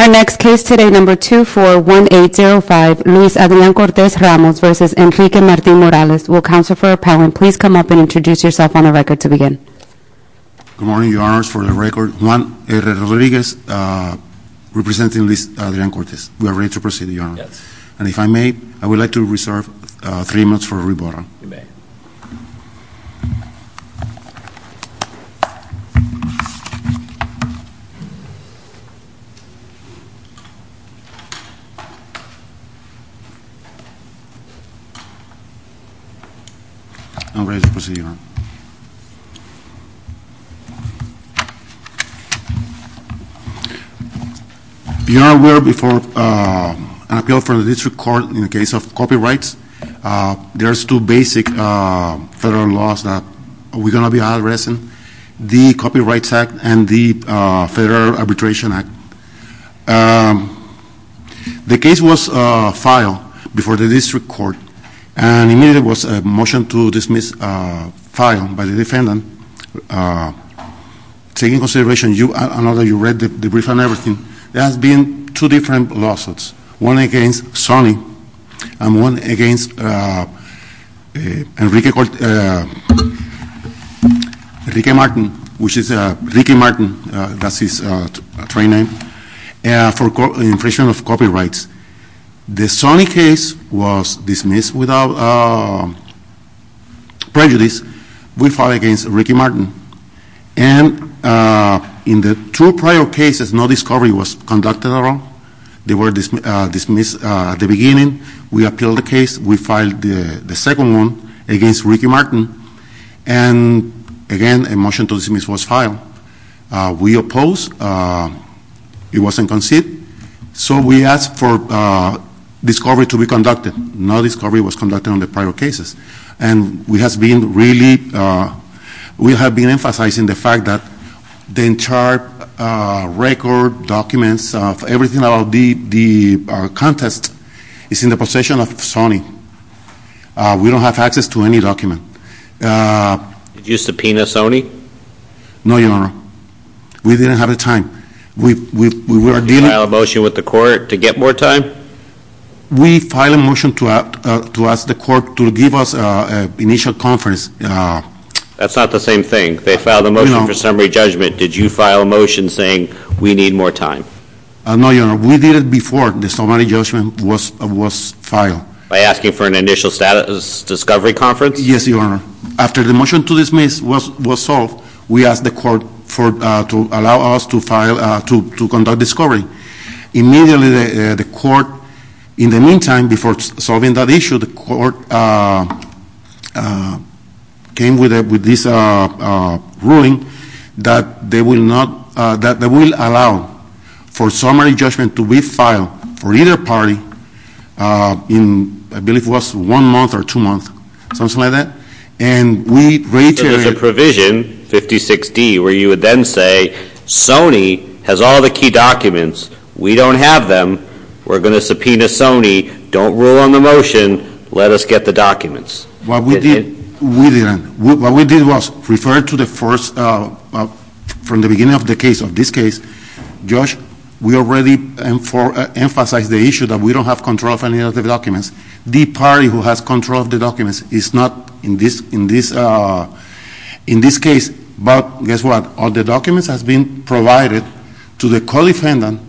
Our next case today, number 241805, Luis Adrian Cortes-Ramos v. Enrique Martin-Morales. Will Counselor for Appellant please come up and introduce yourself on the record to begin? Good morning, Your Honors. For the record, Juan R. Rodriguez representing Luis Adrian Cortes. We are ready to proceed, Your Honor. Yes. And if I may, I would like to reserve three minutes for rebuttal. You may. I'm ready to proceed, Your Honor. Your Honor, we are before an appeal for the district court in the case of copyrights. There's two basic federal laws that we're going to be addressing. The Copyrights Act and the Federal Arbitration Act. The case was filed before the district court. And immediately there was a motion to dismiss the file by the defendant. Taking into consideration, I know that you read the brief and everything. There has been two different lawsuits. One against Sonny and one against Enrique Cortes-Ramos. Enrique Martin, which is Enrique Martin, that's his train name, for infringement of copyrights. The Sonny case was dismissed without prejudice. We filed against Enrique Martin. And in the two prior cases, no discovery was conducted at all. They were dismissed at the beginning. We appealed the case. We filed the second one against Enrique Martin. And again, a motion to dismiss was filed. We opposed, it wasn't conceived. So we asked for discovery to be conducted. No discovery was conducted on the prior cases. And we have been really, we have been emphasizing the fact that the entire record documents of everything about the contest is in the possession of Sonny. We don't have access to any document. Did you subpoena Sonny? No, your honor. We didn't have the time. We were dealing- Did you file a motion with the court to get more time? We filed a motion to ask the court to give us initial conference. That's not the same thing. They filed a motion for summary judgment. Did you file a motion saying we need more time? No, your honor. We did it before the summary judgment was filed. By asking for an initial status discovery conference? Yes, your honor. After the motion to dismiss was solved, we asked the court to allow us to conduct discovery. Immediately, the court, in the meantime, before solving that issue, the court came with this ruling that they will not, that they will allow for summary judgment to be filed for either party in, I believe it was one month or two months, something like that. And we reiterated- So there's a provision, 56D, where you would then say, Sonny has all the key documents. We don't have them. We're going to subpoena Sonny. Don't rule on the motion. Let us get the documents. What we did, we didn't. What we did was refer to the first, from the beginning of the case, of this case. Josh, we already emphasized the issue that we don't have control of any of the documents. The party who has control of the documents is not in this case. But guess what? All the documents has been provided to the co-defendant,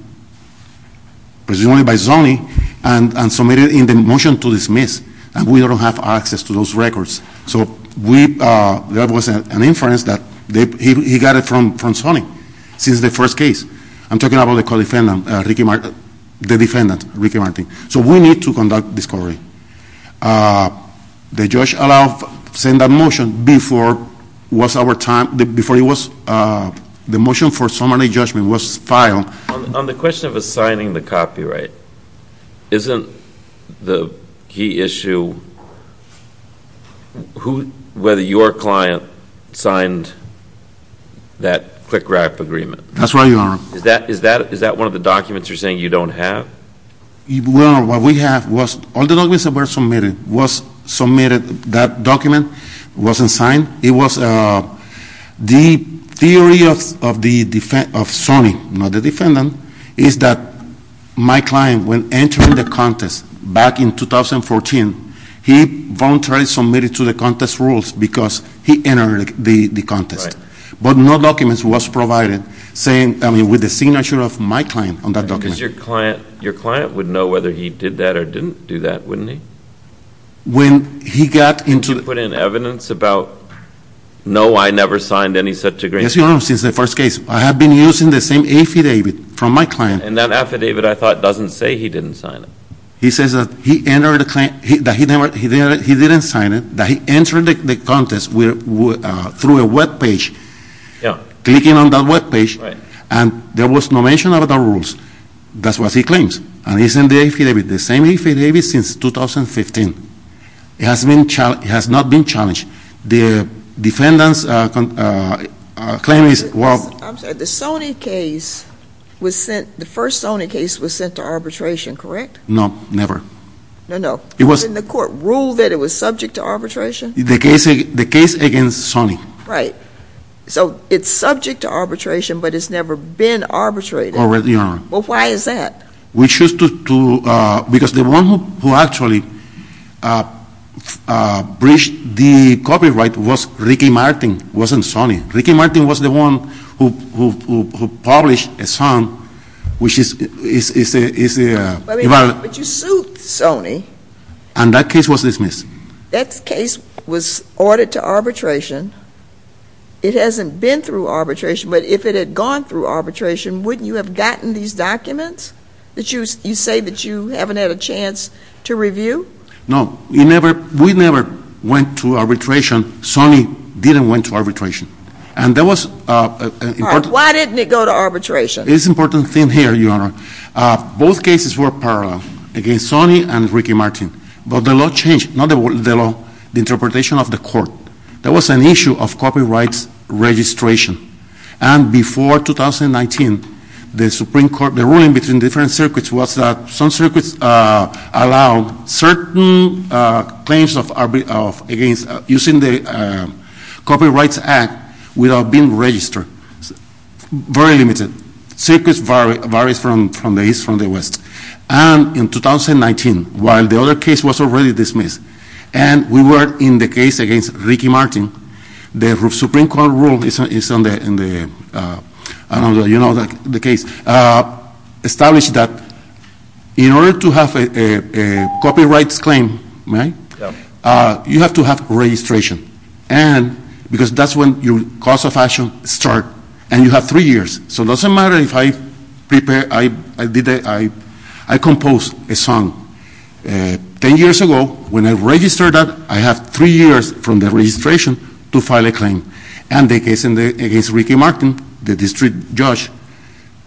presumably by Sonny, and submitted in the motion to dismiss. And we don't have access to those records. So there was an inference that he got it from Sonny. Since the first case. I'm talking about the co-defendant, Ricky Martin, the defendant, Ricky Martin. So we need to conduct discovery. The judge allowed, sent a motion before it was, the motion for summary judgment was filed. On the question of assigning the copyright, isn't the key issue who, whether your client signed that quick wrap agreement? That's right, your honor. Is that one of the documents you're saying you don't have? Well, what we have was, all the documents that were submitted was submitted. That document wasn't signed. It was the theory of Sonny, not the defendant, is that my client, when entering the contest back in 2014, he voluntarily submitted to the contest rules because he entered the contest. But no documents was provided saying, I mean, with the signature of my client on that document. Your client would know whether he did that or didn't do that, wouldn't he? When he got into- Did he put in evidence about, no, I never signed any such agreement? Yes, your honor, since the first case. I have been using the same affidavit from my client. And that affidavit, I thought, doesn't say he didn't sign it. He says that he didn't sign it, that he entered the contest through a web page, clicking on that web page. And there was no mention of the rules. That's what he claims. And he's in the affidavit, the same affidavit since 2015. It has not been challenged. The defendant's claim is, well- I'm sorry, the Sony case was sent, the first Sony case was sent to arbitration, correct? No, never. No, no. It was- Didn't the court rule that it was subject to arbitration? The case against Sony. Right. So it's subject to arbitration, but it's never been arbitrated. Already, your honor. Well, why is that? We choose to, because the one who actually breached the copyright was Ricky Martin, wasn't Sony. Ricky Martin was the one who published a song, which is- But you sued Sony. And that case was dismissed. That case was ordered to arbitration. It hasn't been through arbitration. But if it had gone through arbitration, wouldn't you have gotten these documents that you say that you haven't had a chance to review? No. We never went to arbitration. Sony didn't went to arbitration. And there was- Why didn't it go to arbitration? It's an important thing here, your honor. Both cases were parallel, against Sony and Ricky Martin. But the law changed. Not the law, the interpretation of the court. There was an issue of copyrights registration. And before 2019, the Supreme Court, the ruling between different circuits was that some circuits allowed certain claims of using the Copyrights Act without being registered. Very limited. Circuits vary from the east from the west. And in 2019, while the other case was already dismissed, and we were in the case against Ricky Martin, the Supreme Court rule is on the case, established that in order to have a copyrights claim, you have to have registration. And because that's when your course of action start. And you have three years. So it doesn't matter if I prepare, I compose a song. Ten years ago, when I registered that, I have three years from the registration to file a claim. And the case against Ricky Martin, the district judge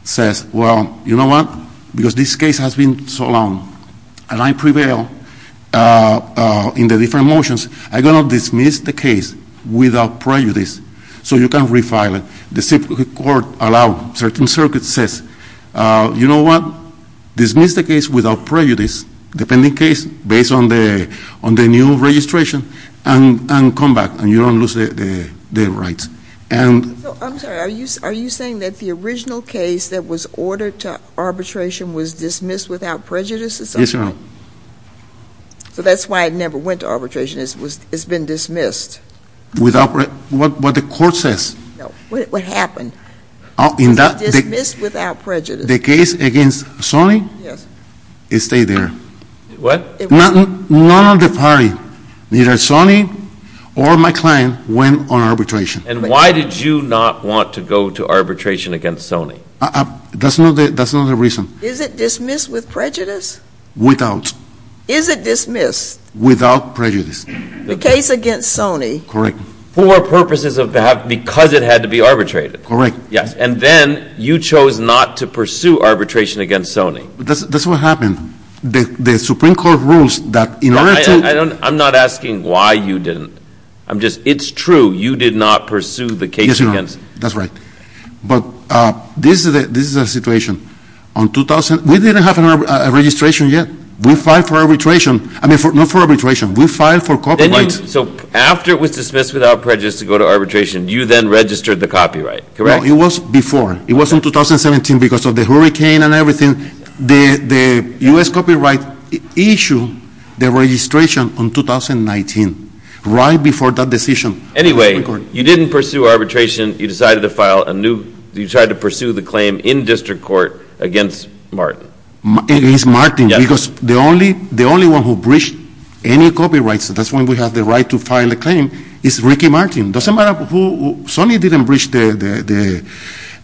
says, well, you know what? Because this case has been so long, and I prevail in the different motions. I'm going to dismiss the case without prejudice, so you can refile it. The Supreme Court allowed certain circuits says, you know what? Dismiss the case without prejudice, depending case, based on the new registration, and come back, and you don't lose the rights. And- I'm sorry, are you saying that the original case that was ordered to arbitration was dismissed without prejudice? Yes, ma'am. So that's why it never went to arbitration, it's been dismissed. Without, what the court says. What happened? It's dismissed without prejudice. The case against Sony? Yes. It stayed there. What? None of the party, neither Sony or my client went on arbitration. And why did you not want to go to arbitration against Sony? That's not the reason. Is it dismissed with prejudice? Without. Is it dismissed? Without prejudice. The case against Sony. Correct. For purposes of, because it had to be arbitrated. Correct. Yes, and then you chose not to pursue arbitration against Sony. That's what happened. The Supreme Court rules that in order to- I'm not asking why you didn't. I'm just, it's true, you did not pursue the case against- That's right. But this is a situation. On 2000, we didn't have a registration yet. We filed for arbitration. I mean, not for arbitration, we filed for copyright. So after it was dismissed without prejudice to go to arbitration, you then registered the copyright. Correct? It was before. It was in 2017 because of the hurricane and everything. The US copyright issue, the registration on 2019, right before that decision. Anyway, you didn't pursue arbitration. You decided to file a new, you tried to pursue the claim in district court against Martin. Against Martin, because the only one who breached any copyrights, that's when we have the right to file a claim, is Ricky Martin. Doesn't matter who, Sony didn't breach the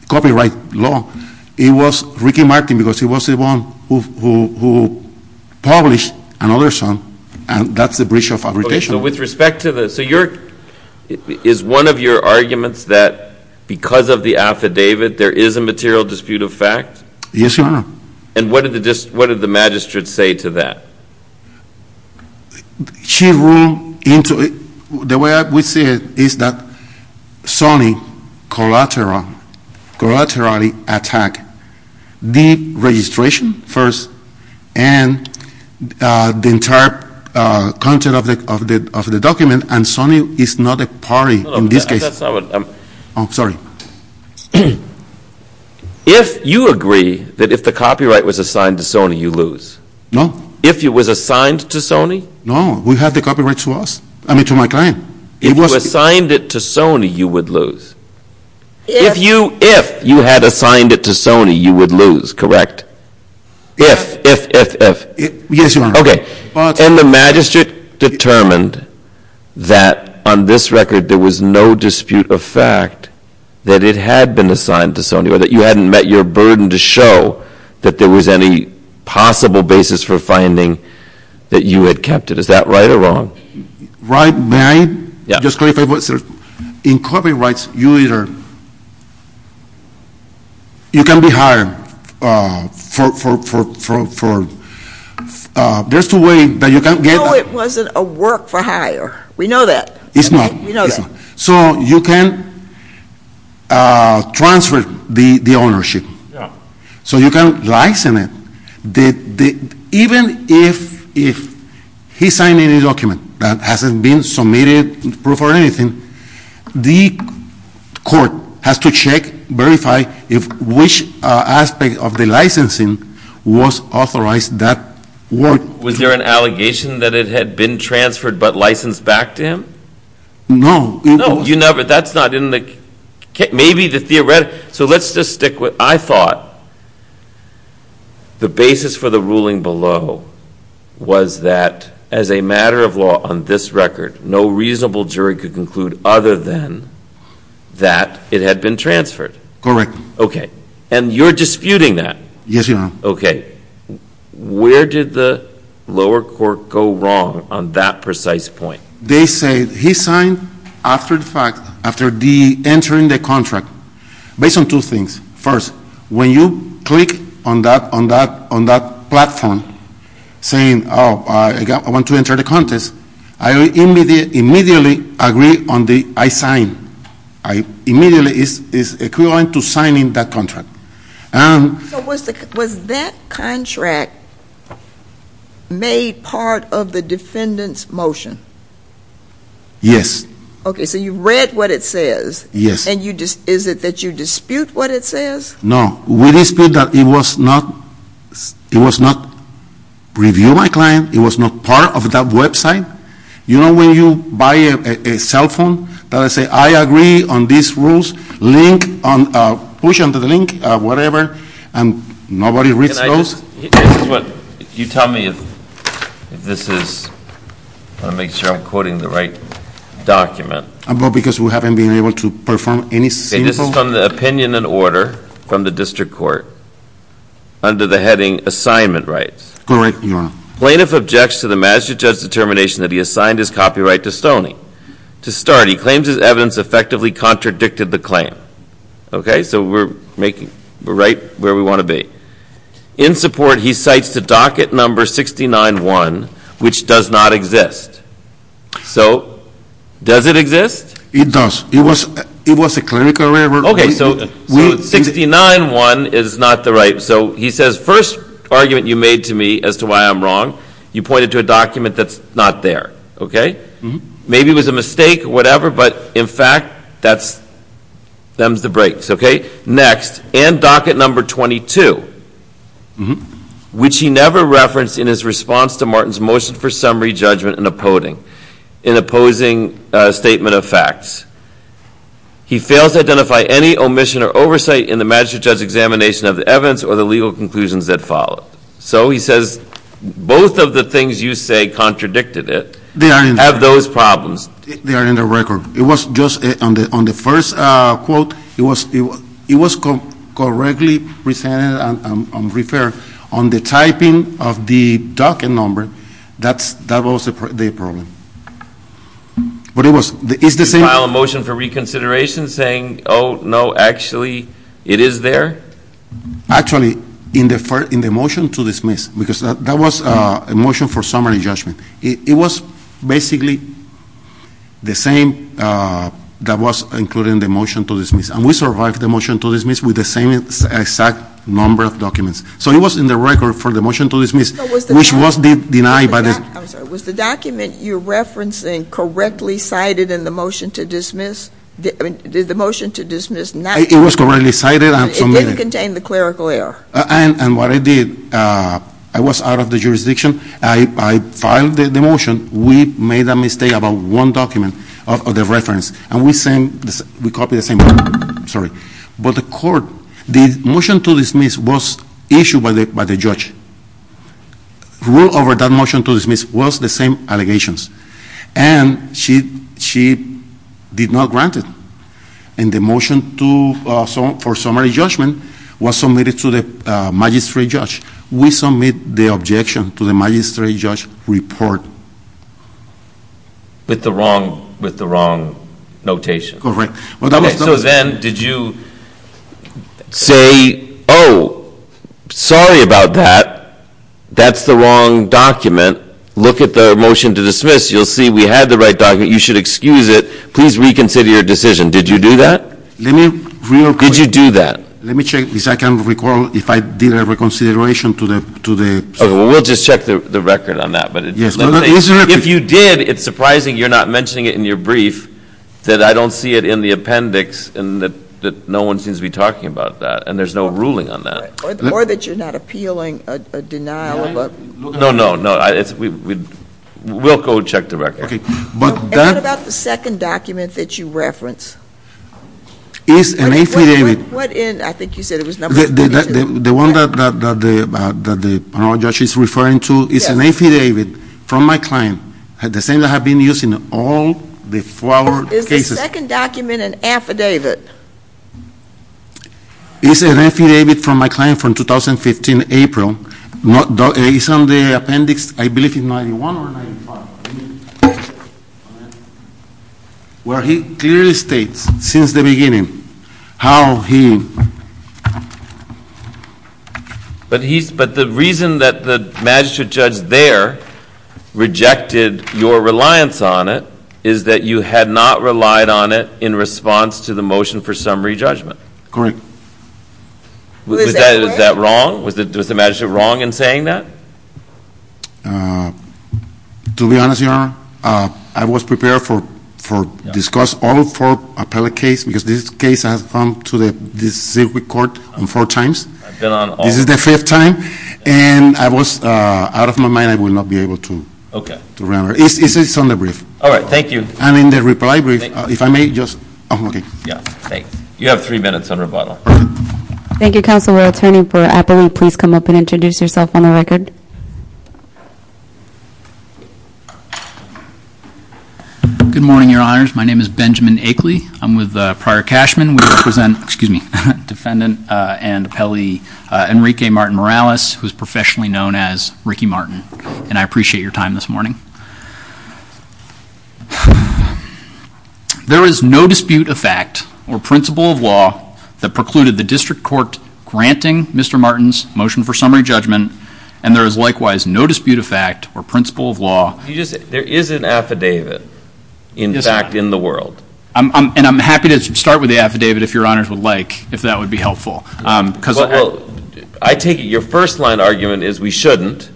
copyright law. It was Ricky Martin, because he was the one who published another song. And that's the breach of arbitration. With respect to this, so your, is one of your arguments that because of the affidavit, there is a material dispute of fact? Yes, Your Honor. And what did the magistrate say to that? She ruled into it, the way we see it is that Sony collaterally attacked the registration first and the entire content of the document. And Sony is not a party in this case. That's not what I'm, I'm sorry. If you agree that if the copyright was assigned to Sony, you lose. No. If it was assigned to Sony? No, we have the copyright to us, I mean, to my client. If you assigned it to Sony, you would lose. If you had assigned it to Sony, you would lose, correct? If, if, if, if. Yes, Your Honor. And the magistrate determined that on this record, there was no dispute of fact that it had been assigned to Sony, or that you hadn't met your burden to show that there was any possible basis for finding that you had kept it. Is that right or wrong? Right, may I just clarify one thing? In copyrights, you either, you can be hired for, for, for, for, there's two ways that you can get that. No, it wasn't a work for hire. We know that. It's not. We know that. So you can transfer the ownership. So you can license it. Even if, if he signed any document that hasn't been submitted, proof or anything, the court has to check, verify if which aspect of the licensing was authorized that work. Was there an allegation that it had been transferred but licensed back to him? No. No, you never, that's not in the, maybe the theoretical, So let's just stick with, I thought the basis for the ruling below was that as a matter of law on this record, no reasonable jury could conclude other than that it had been transferred. Correct. OK. And you're disputing that. Yes, you are. OK. Where did the lower court go wrong on that precise point? They say he signed after the fact, based on two things. First, when you click on that platform saying, oh, I want to enter the contest, I immediately agree on the, I signed. I immediately, it's equivalent to signing that contract. Was that contract made part of the defendant's motion? Yes. OK, so you read what it says. Yes. Is it that you dispute what it says? No, we dispute that it was not review by client. It was not part of that website. You know when you buy a cell phone that I say, I agree on these rules, link on, push under the link, whatever, and nobody reads those? You tell me if this is, I want to make sure I'm quoting the right document. Well, because we haven't been able to perform any simple. OK, this is from the opinion and order from the district court under the heading assignment rights. Correct, Your Honor. Plaintiff objects to the magistrate judge's determination that he assigned his copyright to Stoney. To start, he claims his evidence effectively contradicted the claim. OK, so we're making, we're right where we want to be. In support, he cites the docket number 69-1, which does not exist. So does it exist? It does. It was a clinical error. OK, so 69-1 is not the right. So he says, first argument you made to me as to why I'm wrong, you pointed to a document that's not there, OK? Maybe it was a mistake or whatever, but in fact, that's thumbs the brakes, OK? Next, and docket number 22, which he never referenced in his response to Martin's motion for summary judgment in opposing a statement of facts. He fails to identify any omission or oversight in the magistrate judge's examination of the evidence or the legal conclusions that followed. So he says, both of the things you say contradicted it. They are in there. Have those problems. They are in the record. It was just on the first quote, it was correctly presented and referred. On the typing of the docket number, that was the problem. But it was, it's the same. Did you file a motion for reconsideration saying, oh, no, actually, it is there? Actually, in the motion to dismiss, because that was a motion for summary judgment. It was basically the same that was included in the motion to dismiss. And we survived the motion to dismiss with the same exact number of documents. So it was in the record for the motion to dismiss, which was denied by the. I'm sorry. Was the document you're referencing correctly cited in the motion to dismiss? I mean, did the motion to dismiss not. It was correctly cited and submitted. It didn't contain the clerical error. And what I did, I was out of the jurisdiction. I filed the motion. We made a mistake about one document of the reference. And we sent, we copied the same. Sorry. But the court, the motion to dismiss was issued by the judge. Rule over that motion to dismiss was the same allegations. And she did not grant it. And the motion for summary judgment was submitted to the magistrate judge. We submit the objection to the magistrate judge report. With the wrong notation. Correct. So then, did you say, oh, sorry about that. That's the wrong document. Look at the motion to dismiss. You'll see we had the right document. You should excuse it. Please reconsider your decision. Did you do that? Let me real quick. Did you do that? Let me check, because I can't recall if I did a reconsideration to the. OK, we'll just check the record on that. But if you did, it's surprising you're not mentioning it in your brief, that I don't see it in the appendix, and that no one seems to be talking about that. And there's no ruling on that. Or that you're not appealing a denial of a. No, no, no. We'll go check the record. And what about the second document that you reference? It's an affidavit. I think you said it was number 22. The one that the panel judge is referring to is an affidavit from my client. The same that have been used in all the four-hour cases. Is the second document an affidavit? It's an affidavit from my client from 2015, April. It's on the appendix, I believe, in 91 or 95, where he clearly states, since the beginning, how he. But the reason that the magistrate judge there rejected your reliance on it is that you had not relied on it in response to the motion for summary judgment. Correct. Was that wrong? Was the magistrate wrong in saying that? To be honest, Your Honor, I was prepared for discuss all four appellate cases, because this case has come to the district court on four times. This is the fifth time. And I was out of my mind. I will not be able to remember. It's on the brief. All right, thank you. And in the reply brief, if I may just. Yeah, thanks. You have three minutes on rebuttal. Thank you, Counselor. Attorney for Appellate, please come up and introduce yourself on the record. Good morning, Your Honors. My name is Benjamin Akeley. I'm with Prior Cashman. Excuse me. Defendant and appellee Enrique Martin Morales, who is professionally known as Ricky Martin. And I appreciate your time this morning. There is no dispute of fact or principle of law that precluded the district court granting Mr. Martin's motion for summary judgment. And there is likewise no dispute of fact or principle of law. There is an affidavit, in fact, in the world. And I'm happy to start with the affidavit if Your Honors would like, if that would be helpful. I take it your first line argument is we shouldn't,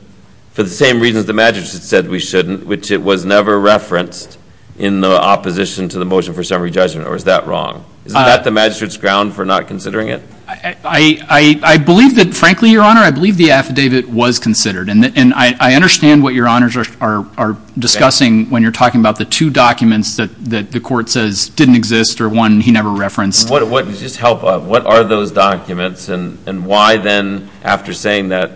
for the same reasons the magistrate said we shouldn't, which it was never referenced in the opposition to the motion for summary judgment. Or is that wrong? Isn't that the magistrate's ground for not considering it? I believe that, frankly, Your Honor, I believe the affidavit was considered. And I understand what Your Honors are discussing when you're talking about the two documents that the court says didn't exist or one he never referenced. What are those documents? And why then, after saying that,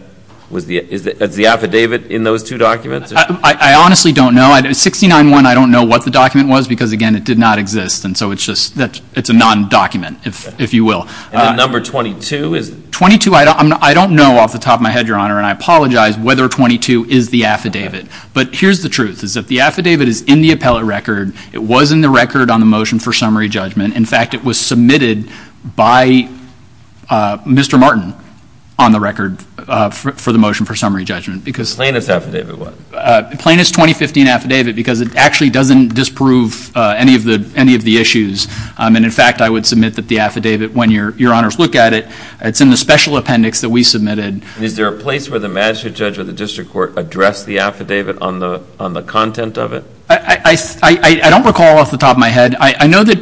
is the affidavit in those two documents? I honestly don't know. 69-1, I don't know what the document was. Because again, it did not exist. And so it's just a non-document, if you will. Number 22 is? 22, I don't know off the top of my head, Your Honor. And I apologize whether 22 is the affidavit. But here's the truth, is that the affidavit is in the appellate record. It was in the record on the motion for summary judgment. In fact, it was submitted by Mr. Martin on the record for the motion for summary judgment. Plaintiff's affidavit was? Plaintiff's 2015 affidavit, because it actually doesn't disprove any of the issues. And in fact, I would submit that the affidavit, when Your Honors look at it, it's in the special appendix that we submitted. Is there a place where the magistrate judge or the district court addressed the affidavit on the content of it? I don't recall off the top of my head. I know that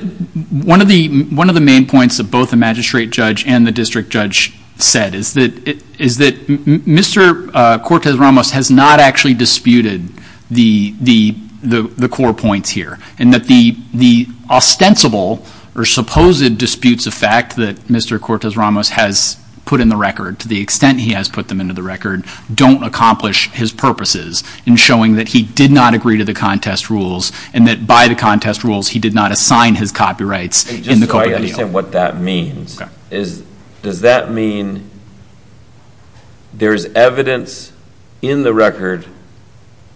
one of the main points that both the magistrate judge and the district judge said is that Mr. Cortez-Ramos has not actually disputed the core points here. And that the ostensible or supposed disputes of fact that Mr. Cortez-Ramos has put in the record, to the extent he has put them into the record, don't accomplish his purposes in showing that he did not agree to the contest rules. And that by the contest rules, he did not assign his copyrights in the court of appeal. Just so I understand what that means. Does that mean there is evidence in the record,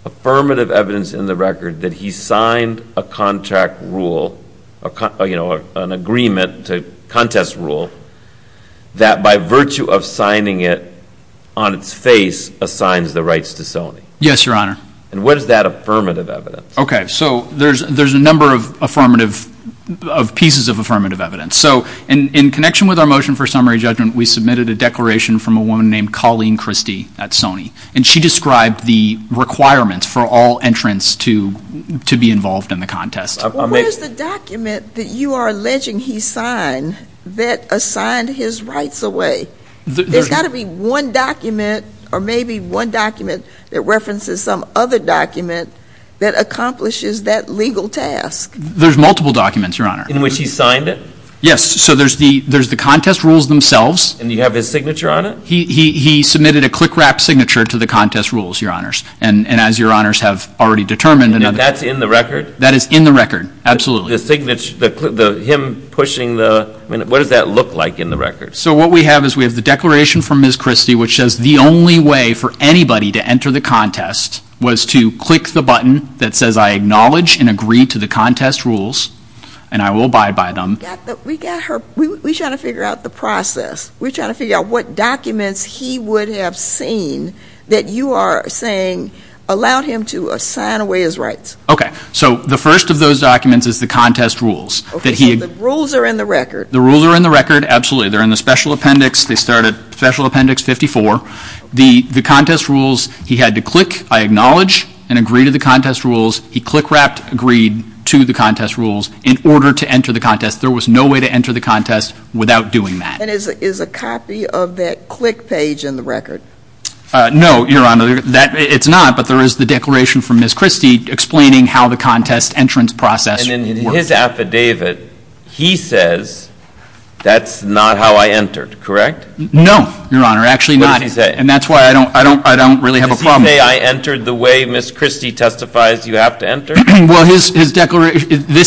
affirmative evidence in the record, that he signed a contract rule, an agreement to contest rule, that by virtue of signing it on its face assigns the rights to Sony? Yes, Your Honor. And what is that affirmative evidence? OK, so there's a number of pieces of affirmative evidence. So in connection with our motion for summary judgment, we submitted a declaration from a woman named Colleen Christie at Sony. And she described the requirements for all entrants to be involved in the contest. Where's the document that you are alleging he signed that assigned his rights away? There's got to be one document, or maybe one document, that references some other document that accomplishes that legal task. There's multiple documents, Your Honor. In which he signed it? Yes, so there's the contest rules themselves. And you have his signature on it? He submitted a click wrap signature to the contest rules, Your Honors. And as Your Honors have already determined. And that's in the record? That is in the record, absolutely. The him pushing the, what does that look like in the record? So what we have is we have the declaration from Ms. Christie, which says the only way for anybody to enter the contest was to click the button that says I acknowledge and agree to the contest rules, and I will abide by them. We got her, we're trying to figure out the process. We're trying to figure out what documents he would have seen that you are saying allowed him to assign away his rights. OK, so the first of those documents is the contest rules. OK, so the rules are in the record? The rules are in the record, absolutely. They're in the special appendix. They start at special appendix 54. The contest rules, he had to click I acknowledge and agree to the contest rules. He click wrapped agreed to the contest rules in order to enter the contest. There was no way to enter the contest without doing that. And is a copy of that click page in the record? No, Your Honor, it's not. But there is the declaration from Ms. Christie explaining how the contest entrance process And in his affidavit, he says, that's not how I entered, correct? No, Your Honor, actually not. What does he say? And that's why I don't really have a problem. Does he say I entered the way Ms. Christie testifies you have to enter? Well, this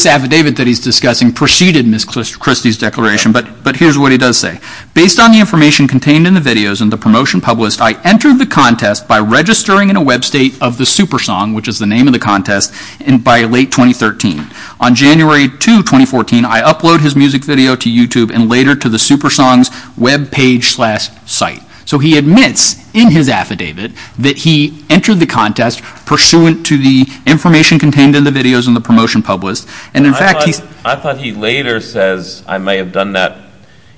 affidavit that he's discussing preceded Ms. Christie's declaration, but here's what he does say. Based on the information contained in the videos and the promotion published, I entered the contest by registering in a web state of the SuperSong, which is the name of the contest, and by late 2013. On January 2, 2014, I upload his music video to YouTube and later to the SuperSong's web page slash site. So he admits in his affidavit that he entered the contest pursuant to the information contained in the videos and the promotion published. And in fact, he's I thought he later says I may have done that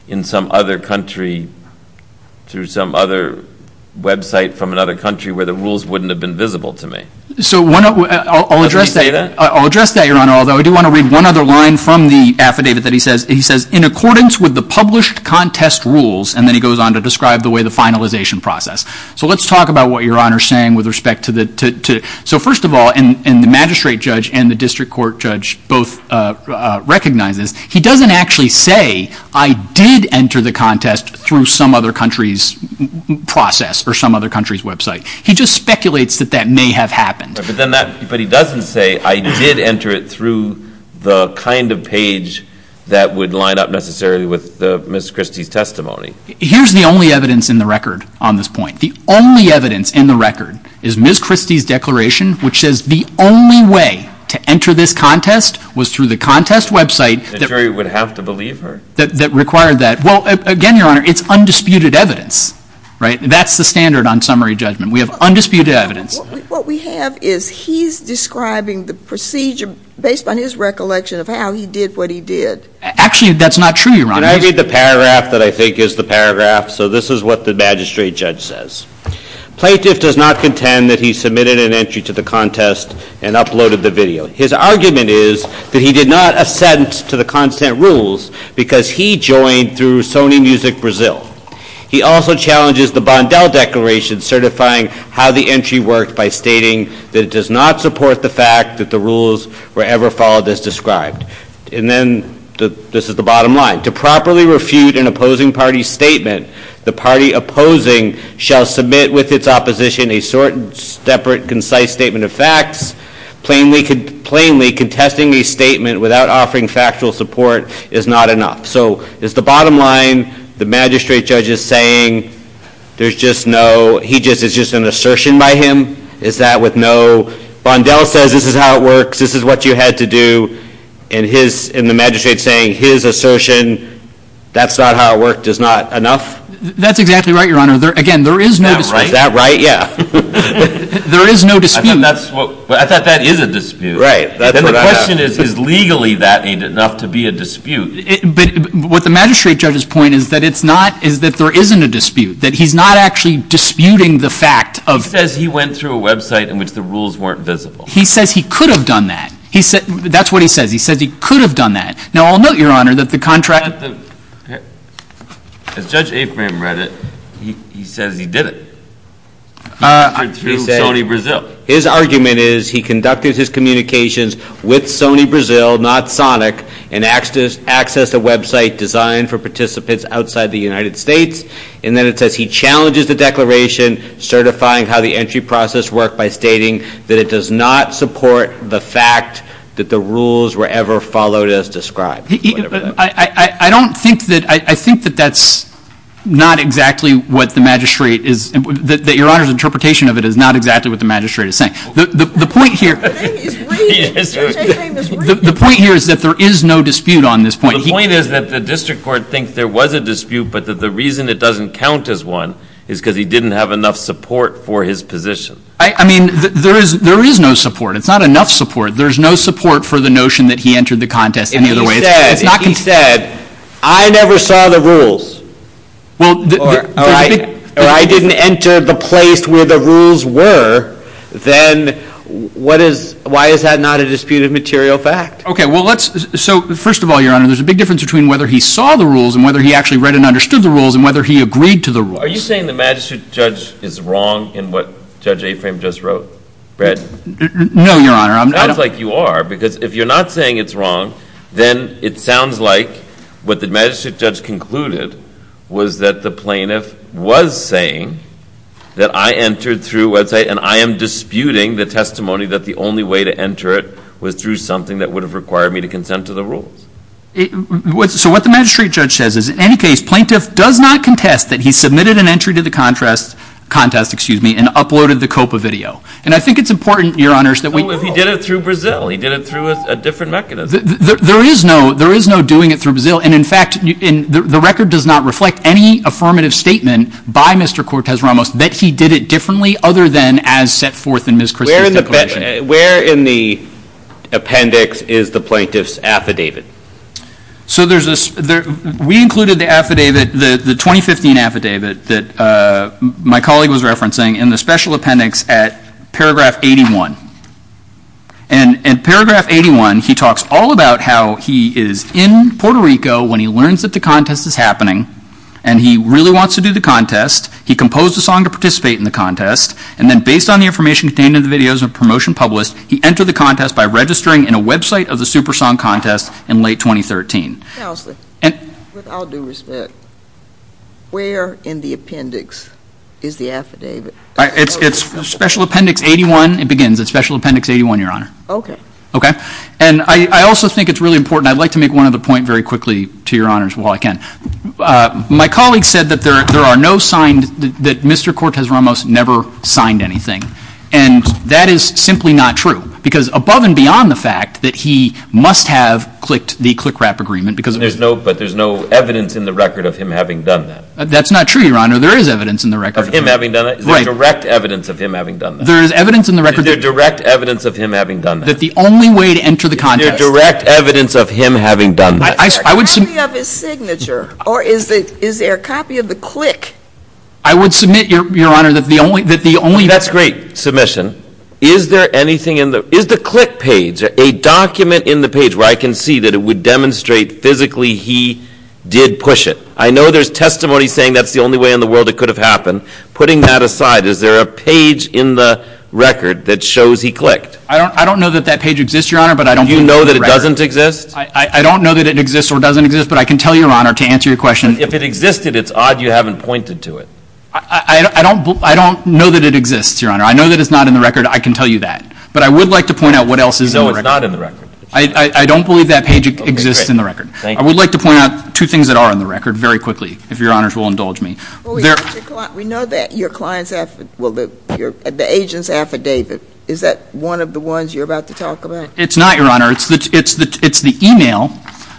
in some other country through some other website from another country where the rules wouldn't have been visible to me. So I'll address that, Your Honor, although I do want to read one other line from the affidavit that he says, he says, in accordance with the published contest rules, and then he goes on to describe the way the finalization process. So let's talk about what Your Honor is saying with respect to the two. So first of all, and the magistrate judge and the district court judge both recognizes, he doesn't actually say I did enter the contest through some other country's process or some other country's website. He just speculates that that may have happened. But he doesn't say I did enter it through the kind of page that would line up necessarily with Ms. Christie's testimony. Here's the only evidence in the record on this point. The only evidence in the record is Ms. Christie's declaration, which says the only way to enter this contest was through the contest website. The jury would have to believe her? That required that. Well, again, Your Honor, it's undisputed evidence. That's the standard on summary judgment. We have undisputed evidence. What we have is he's describing the procedure based on his recollection of how he did what he did. Actually, that's not true, Your Honor. Can I read the paragraph that I think is the paragraph? So this is what the magistrate judge says. Plaintiff does not contend that he submitted an entry to the contest and uploaded the video. His argument is that he did not assent to the content rules because he joined through Sony Music Brazil. He also challenges the Bondell Declaration certifying how the entry worked by stating that it does not support the fact that the rules were ever followed as described. And then this is the bottom line. To properly refute an opposing party's statement, the party opposing shall submit with its opposition a separate, concise statement of facts. Plainly contesting a statement without offering factual support is not enough. So is the bottom line the magistrate judge is saying there's just no, he just, it's just an assertion by him? Is that with no, Bondell says this is how it works, this is what you had to do, and the magistrate's saying his assertion, that's not how it worked is not enough? That's exactly right, Your Honor. Again, there is no dispute. Is that right? Yeah. There is no dispute. I thought that is a dispute. Right. And the question is, is legally that ain't enough to be a dispute? But what the magistrate judge's point is that it's not, is that there isn't a dispute. That he's not actually disputing the fact of. He says he went through a website in which the rules weren't visible. He says he could have done that. That's what he says. He says he could have done that. Now, I'll note, Your Honor, that the contract. As Judge Afram read it, he says he did it. He went through Sony Brazil. His argument is he conducted his communications with Sony Brazil, not Sonic, and accessed a website designed for participants outside the United States. And then it says he challenges the declaration, certifying how the entry process worked by stating that it does not support the fact that the rules were ever followed as described. I don't think that, I think that that's not exactly what the magistrate is, that Your Honor's interpretation of it is not exactly what the magistrate is saying. The point here. Judge Afram is reading. The point here is that there is no dispute on this point. The point is that the district court thinks there was a dispute, but that the reason it doesn't count as one is because he didn't have enough support for his position. I mean, there is no support. It's not enough support. There's no support for the notion that he entered the contest any other way. And he said, I never saw the rules. Well, all right. Or I didn't enter the place where the rules were, then why is that not a disputed material fact? OK, well, let's, so first of all, Your Honor, there's a big difference between whether he saw the rules and whether he actually read and understood the rules and whether he agreed to the rules. Are you saying the magistrate judge is wrong in what Judge Afram just wrote, Brad? No, Your Honor. It sounds like you are. Because if you're not saying it's wrong, then it sounds like what the magistrate judge concluded was that the plaintiff was saying that I entered through, let's say, and I am disputing the testimony that the only way to enter it was through something that would have required me to consent to the rules. So what the magistrate judge says is, in any case, plaintiff does not contest that he submitted an entry to the contest and uploaded the COPPA video. And I think it's important, Your Honors, that we all. Well, if he did it through Brazil. He did it through a different mechanism. There is no doing it through Brazil. And in fact, the record does not reflect any affirmative statement by Mr. Cortes-Ramos that he did it differently other than as set forth in Ms. Christie's declaration. Where in the appendix is the plaintiff's affidavit? So we included the 2015 affidavit that my colleague was referencing in the special appendix at paragraph 81. And in paragraph 81, he talks all about how he is in Puerto Rico when he learns that the contest is happening. And he really wants to do the contest. He composed a song to participate in the contest. And then based on the information contained in the videos and promotion published, he entered the contest by registering in a website of the Super Song Contest in late 2013. Counselor, with all due respect, where in the appendix is the affidavit? It's special appendix 81. It begins at special appendix 81, Your Honor. OK. OK. And I also think it's really important. I'd like to make one other point very quickly to Your Honors while I can. My colleague said that there are no signed, that Mr. Cortez-Ramos never signed anything. And that is simply not true. Because above and beyond the fact that he must have clicked the click-wrap agreement, because there's no evidence in the record of him having done that. That's not true, Your Honor. There is evidence in the record. Of him having done it? Is there direct evidence of him having done that? There is evidence in the record. Is there direct evidence of him having done that? That the only way to enter the contest. Is there direct evidence of him having done that? Is there a copy of his signature? Or is there a copy of the click? I would submit, Your Honor, that the only way to enter. That's great submission. Is there anything in the, is the click page, a document in the page where I can see that it would demonstrate physically he did push it? I know there's testimony saying that's the only way in the world it could have happened. Putting that aside, is there a page in the record that shows he clicked? I don't know that that page exists, Your Honor, but I don't think it's in the record. Do you know that it doesn't exist? I don't know that it exists or doesn't exist, but I can tell you, Your Honor, to answer your question. If it existed, it's odd you haven't pointed to it. I don't know that it exists, Your Honor. I know that it's not in the record. I can tell you that. But I would like to point out what else is in the record. You know it's not in the record. I don't believe that page exists in the record. I would like to point out two things that are in the record very quickly, if Your Honors will indulge me. We know that your client's, well, the agent's affidavit, is that one of the ones you're about to talk about? It's not, Your Honor. It's the email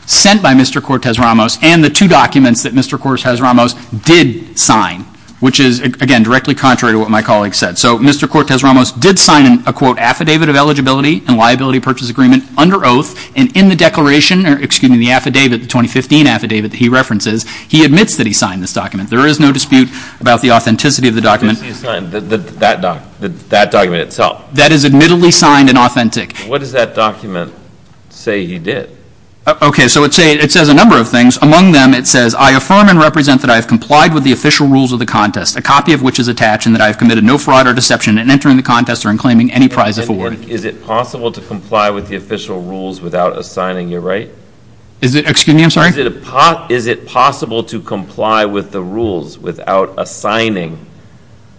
sent by Mr. Cortes-Ramos and the two documents that Mr. Cortes-Ramos did sign, which is, again, directly contrary to what my colleague said. So Mr. Cortes-Ramos did sign an, quote, affidavit of eligibility and liability purchase agreement under oath, and in the declaration, or excuse me, the affidavit, the 2015 affidavit that he references, he admits that he signed this document. There is no dispute about the authenticity of the document. What does he sign, that document itself? That is admittedly signed and authentic. What does that document say he did? Okay, so it says a number of things. Among them, it says, I affirm and represent that I have complied with the official rules of the contest, a copy of which is attached, and that I have committed no fraud or deception in entering the contest or in claiming any prize afforded. Is it possible to comply with the official rules without assigning your right? Is it, excuse me, I'm sorry? Is it possible to comply with the rules without assigning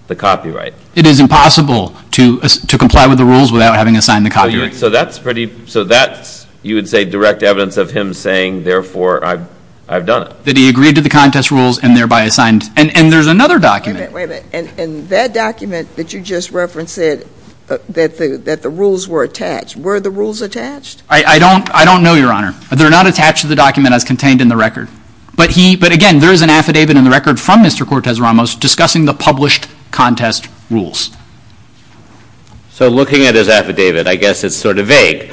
the copyright? It is impossible to comply with the rules without having assigned the copyright. So that's pretty, so that's, you would say, direct evidence of him saying, therefore, I've done it. That he agreed to the contest rules and thereby assigned, and there's another document. Wait a minute, and that document that you just referenced said that the rules were attached. Were the rules attached? I don't know, Your Honor. They're not attached to the document as contained in the record. But again, there is an affidavit in the record from Mr. Cortez-Ramos discussing the published contest rules. So looking at his affidavit, I guess it's sort of vague.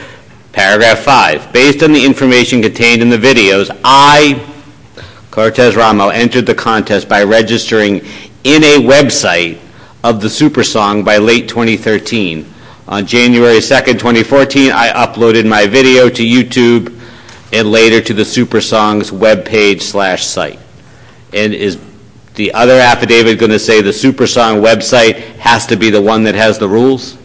Paragraph five, based on the information contained in the videos, I, Cortez-Ramos, entered the contest by registering in a website of the SuperSong by late 2013. On January 2nd, 2014, I uploaded my video to YouTube and later to the SuperSong's webpage slash site. And is the other affidavit gonna say the SuperSong website has to be the one that has the rules?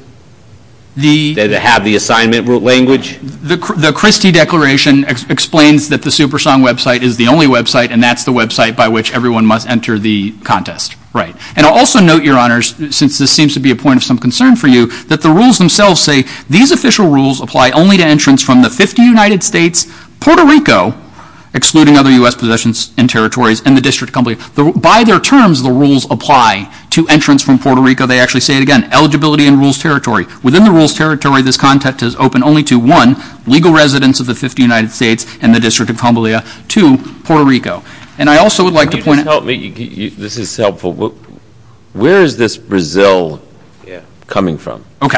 Does it have the assignment language? The Christie Declaration explains that the SuperSong website is the only website, and that's the website by which everyone must enter the contest. And I'll also note, Your Honors, since this seems to be a point of some concern for you, that the rules themselves say, these official rules apply only to entrants from the 50 United States, Puerto Rico, excluding other US possessions and territories, and the district company. By their terms, the rules apply to entrants from Puerto Rico. They actually say it again, eligibility in rules territory. Within the rules territory, this contest is open only to one, legal residents of the 50 United States and the District of Humboldtia, two, Puerto Rico. And I also would like to point out. This is helpful. Where is this Brazil coming from? OK.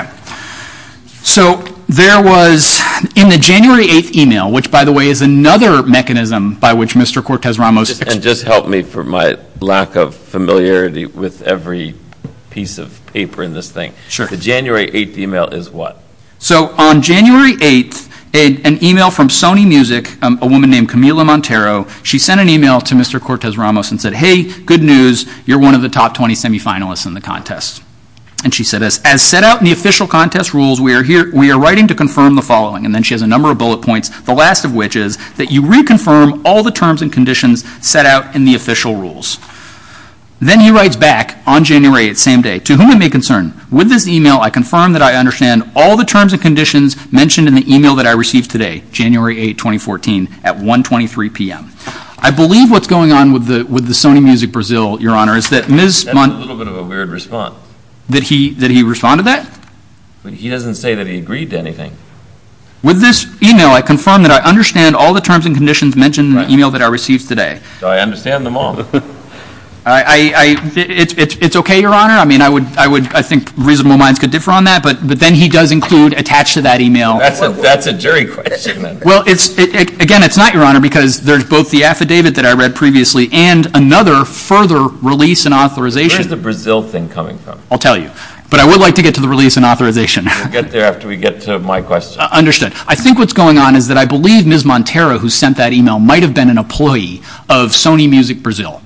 So there was, in the January 8th email, which, by the way, is another mechanism by which Mr. Cortez-Ramos. And just help me for my lack of familiarity with every piece of paper in this thing. The January 8th email is what? So on January 8th, an email from Sony Music, a woman named Camila Montero, she sent an email to Mr. Cortez-Ramos and said, hey, good news. You're one of the top 20 semifinalists in the contest. And she said, as set out in the official contest rules, we are writing to confirm the following. And then she has a number of bullet points, the last of which is that you reconfirm all the terms and conditions set out in the official rules. Then he writes back on January 8th, same day, to whom it may concern. With this email, I confirm that I understand all the terms and conditions mentioned in the email that I received today, January 8, 2014, at 1.23 PM. I believe what's going on with the Sony Music Brazil, Your Honor, is that Ms. Montero. That's a little bit of a weird response. That he responded to that? But he doesn't say that he agreed to anything. With this email, I confirm that I understand all the terms and conditions mentioned in the email that I received today. So I understand them all. I, it's OK, Your Honor. I mean, I think reasonable minds could differ on that. But then he does include attached to that email. That's a jury question. Well, again, it's not, Your Honor, because there's both the affidavit that I read previously and another further release and authorization. Where's the Brazil thing coming from? I'll tell you. But I would like to get to the release and authorization. We'll get there after we get to my question. Understood. I think what's going on is that I believe Ms. Montero, who sent that email, might have been an employee of Sony Music Brazil.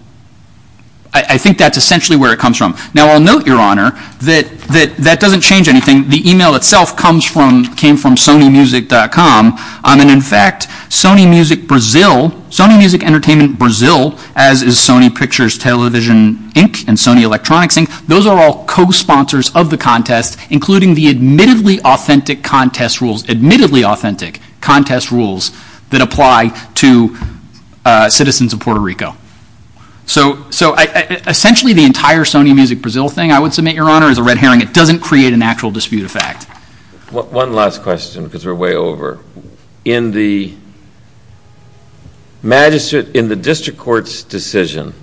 I think that's essentially where it comes from. Now, I'll note, Your Honor, that that doesn't change anything. The email itself comes from, came from sonymusic.com. And in fact, Sony Music Brazil, Sony Music Entertainment Brazil, as is Sony Pictures Television Inc. and Sony Electronics Inc., those are all co-sponsors of the contest, including the admittedly authentic contest rules, admittedly authentic contest rules, that apply to citizens of Puerto Rico. So essentially, the entire Sony Music Brazil thing, I would submit, Your Honor, is a red herring. It doesn't create an actual dispute of fact. One last question, because we're way over. In the magistrate, in the district court's decision,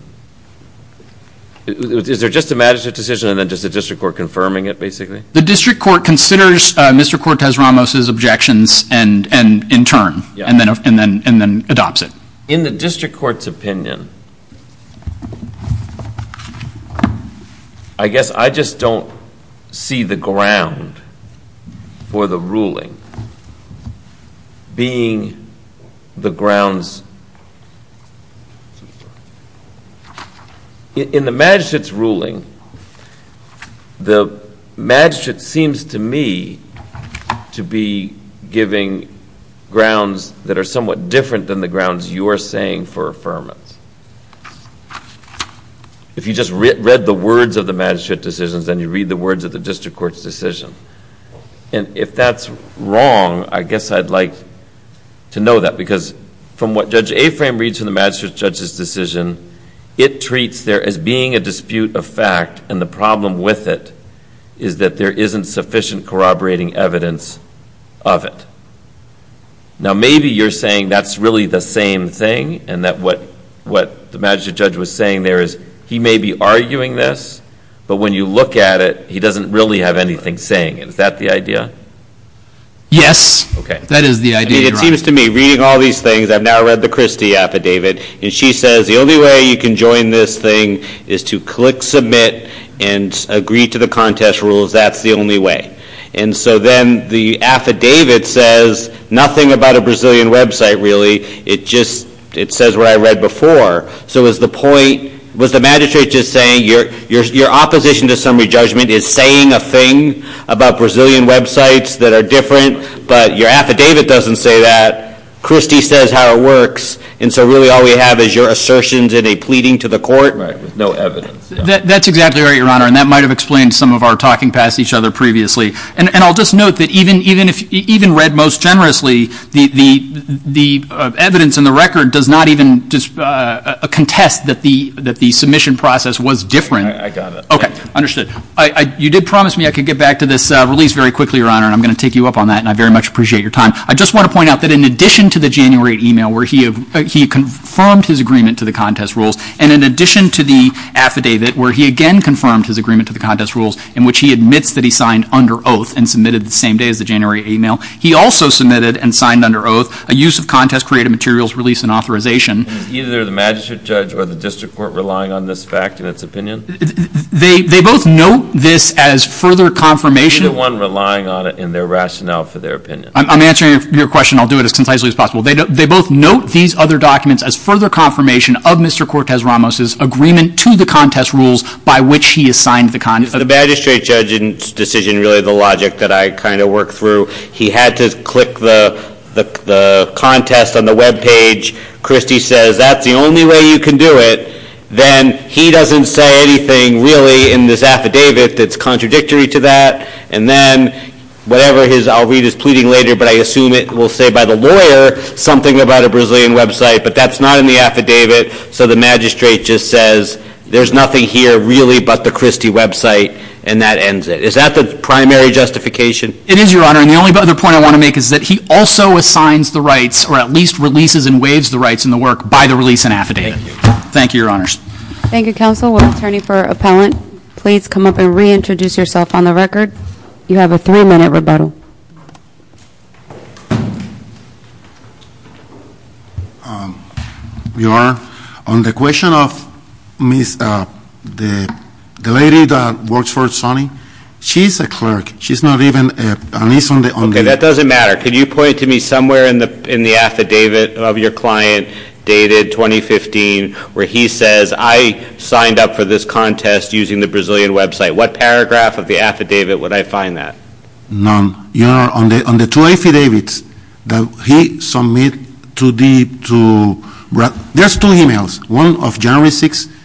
is there just a magistrate decision, and then just the district court confirming it, basically? The district court considers Mr. Cortez-Ramos's objections, and in turn, and then adopts it. In the district court's opinion, I guess I just don't see the ground for the ruling being the grounds. In the magistrate's ruling, the magistrate seems to me to be giving grounds that are somewhat different than the grounds you're saying for affirmance. If you just read the words of the magistrate decisions, then you read the words of the district court's decision. And if that's wrong, I guess I'd like to know that. Because from what Judge Aframe reads in the magistrate judge's decision, it treats there as being a dispute of fact, and the problem with it is that there isn't sufficient corroborating evidence of it. Now, maybe you're saying that's really the same thing, and that what the magistrate judge was saying there is he may be arguing this, but when you look at it, he doesn't really have anything saying it. Is that the idea? Yes. That is the idea. It seems to me, reading all these things, I've now read the Christie affidavit, and she says the only way you can join this thing is to click Submit and agree to the contest rules. That's the only way. And so then the affidavit says nothing about a Brazilian website, really. It just says what I read before. So is the point, was the magistrate just saying your opposition to summary judgment is saying a thing about Brazilian websites that are different, but your affidavit doesn't say that? Christie says how it works, and so really all we have is your assertions in a pleading to the court? Right, with no evidence. That's exactly right, Your Honor, and that might have explained some of our talking past each other previously. And I'll just note that even read most generously, the evidence in the record does not even contest that the submission process was different. I got it. OK, understood. You did promise me I could get back to this release very quickly, Your Honor, and I'm going to take you up on that, and I very much appreciate your time. I just want to point out that in addition to the January email where he confirmed his agreement to the contest rules, and in addition to the affidavit where he again confirmed his agreement to the contest rules, in which he admits that he signed under oath and submitted the same day as the January email, he also submitted and signed under oath a use of contest-created materials release and authorization. Either the magistrate judge or the district court relying on this fact in its opinion? They both note this as further confirmation. Either one relying on it in their rationale for their opinion. I'm answering your question. I'll do it as concisely as possible. They both note these other documents as further confirmation of Mr. Cortez-Ramos's agreement to the contest rules by which he has signed the contest. The magistrate judge's decision, really the logic that I kind of worked through, he had to click the contest on the web page. Christie says, that's the only way you can do it. Then he doesn't say anything, really, in this affidavit that's contradictory to that. And then whatever his, I'll read his pleading later, but I assume it will say by the lawyer something about a Brazilian website. But that's not in the affidavit. So the magistrate just says, there's nothing here really but the Christie website. And that ends it. Is that the primary justification? It is, Your Honor. And the only other point I want to make is that he also assigns the rights, or at least releases and waives the rights in the work by the release and affidavit. Thank you, Your Honors. Thank you, Counsel. Will the attorney for Appellant please come up and reintroduce yourself on the record? You have a three-minute rebuttal. Your Honor, on the question of the lady that works for Sonny, she's a clerk. She's not even a niece on the affidavit. OK, that doesn't matter. Could you point to me somewhere in the affidavit of your client dated 2015, where he says, I signed up for this contest using the Brazilian website. What paragraph of the affidavit would I find that? None. Your Honor, on the two affidavits that he submit to the two, there's two emails, one of January 6th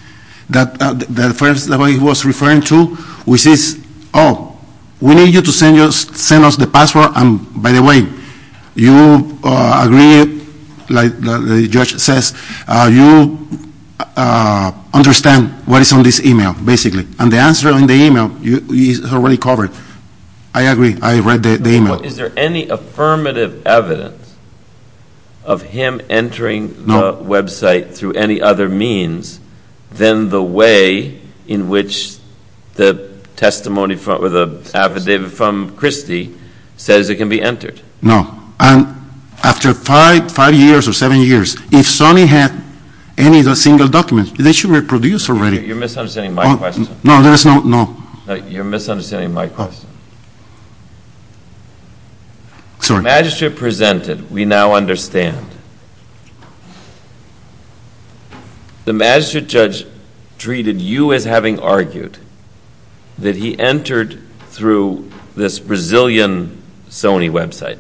that the first lady was referring to, which is, oh, we need you to send us the password, and by the way, you agree, like the judge says, you understand what is on this email, basically. And the answer on the email is already covered. I agree. I read the email. Is there any affirmative evidence of him entering the website through any other means than the way in which the testimony or the affidavit from Christie says it can be entered? No. After five years or seven years, if Sonny had any of the single documents, they should reproduce already. You're misunderstanding my question. No, there is no, no. You're misunderstanding my question. Sorry. The magistrate presented, we now understand. The magistrate judge treated you as having argued that he entered through this Brazilian Sony website.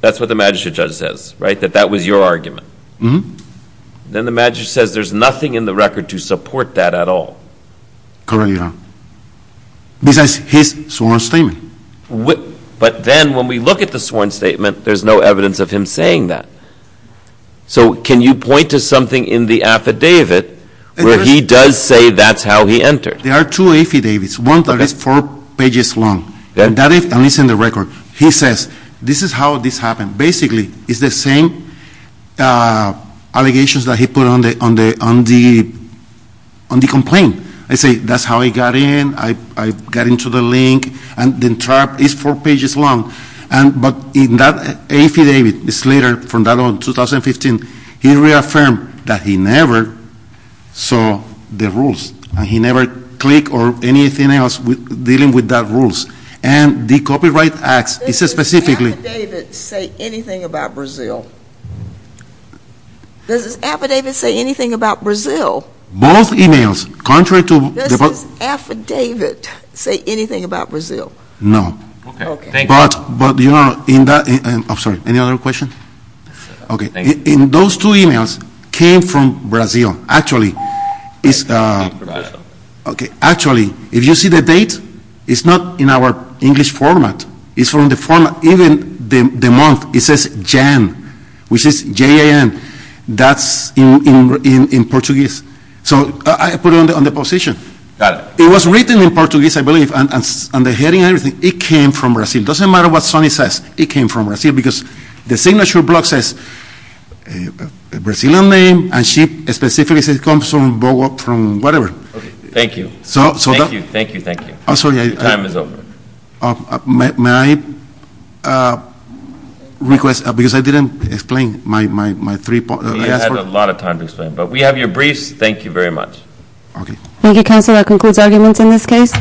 That's what the magistrate judge says, right, that that was your argument. Then the magistrate says there's nothing in the record to support that at all. Currently, no. This is his sworn statement. But then when we look at the sworn statement, there's no evidence of him saying that. So can you point to something in the affidavit where he does say that's how he entered? There are two affidavits, one that is four pages long. That is, at least in the record, he says this is how this happened. Basically, it's the same allegations that he put on the complaint. I say, that's how I got in. I got into the link. And the chart is four pages long. But in that affidavit, it's later, from that on, 2015, he reaffirmed that he never saw the rules. And he never clicked or anything else dealing with that rules. And the copyright act, it says specifically. Does this affidavit say anything about Brazil? Does this affidavit say anything about Brazil? Both emails. Contrary to the both. Does this affidavit say anything about Brazil? No. But you know, in that, I'm sorry, any other question? OK, in those two emails came from Brazil. Actually, if you see the date, it's not in our English format. It's from the format. Even the month, it says Jan, which is J-A-N. That's in Portuguese. So I put it on the position. Got it. It was written in Portuguese, I believe. And the heading and everything, it came from Brazil. Doesn't matter what Sonny says. It came from Brazil. Because the signature block says a Brazilian name. And she specifically says it comes from Boa, from whatever. Thank you. Thank you, thank you, thank you. I'm sorry. Time is over. May I request? Because I didn't explain my three points. I had a lot of time to explain. But we have your briefs. Thank you very much. Thank you, Counselor. That concludes arguments in this case.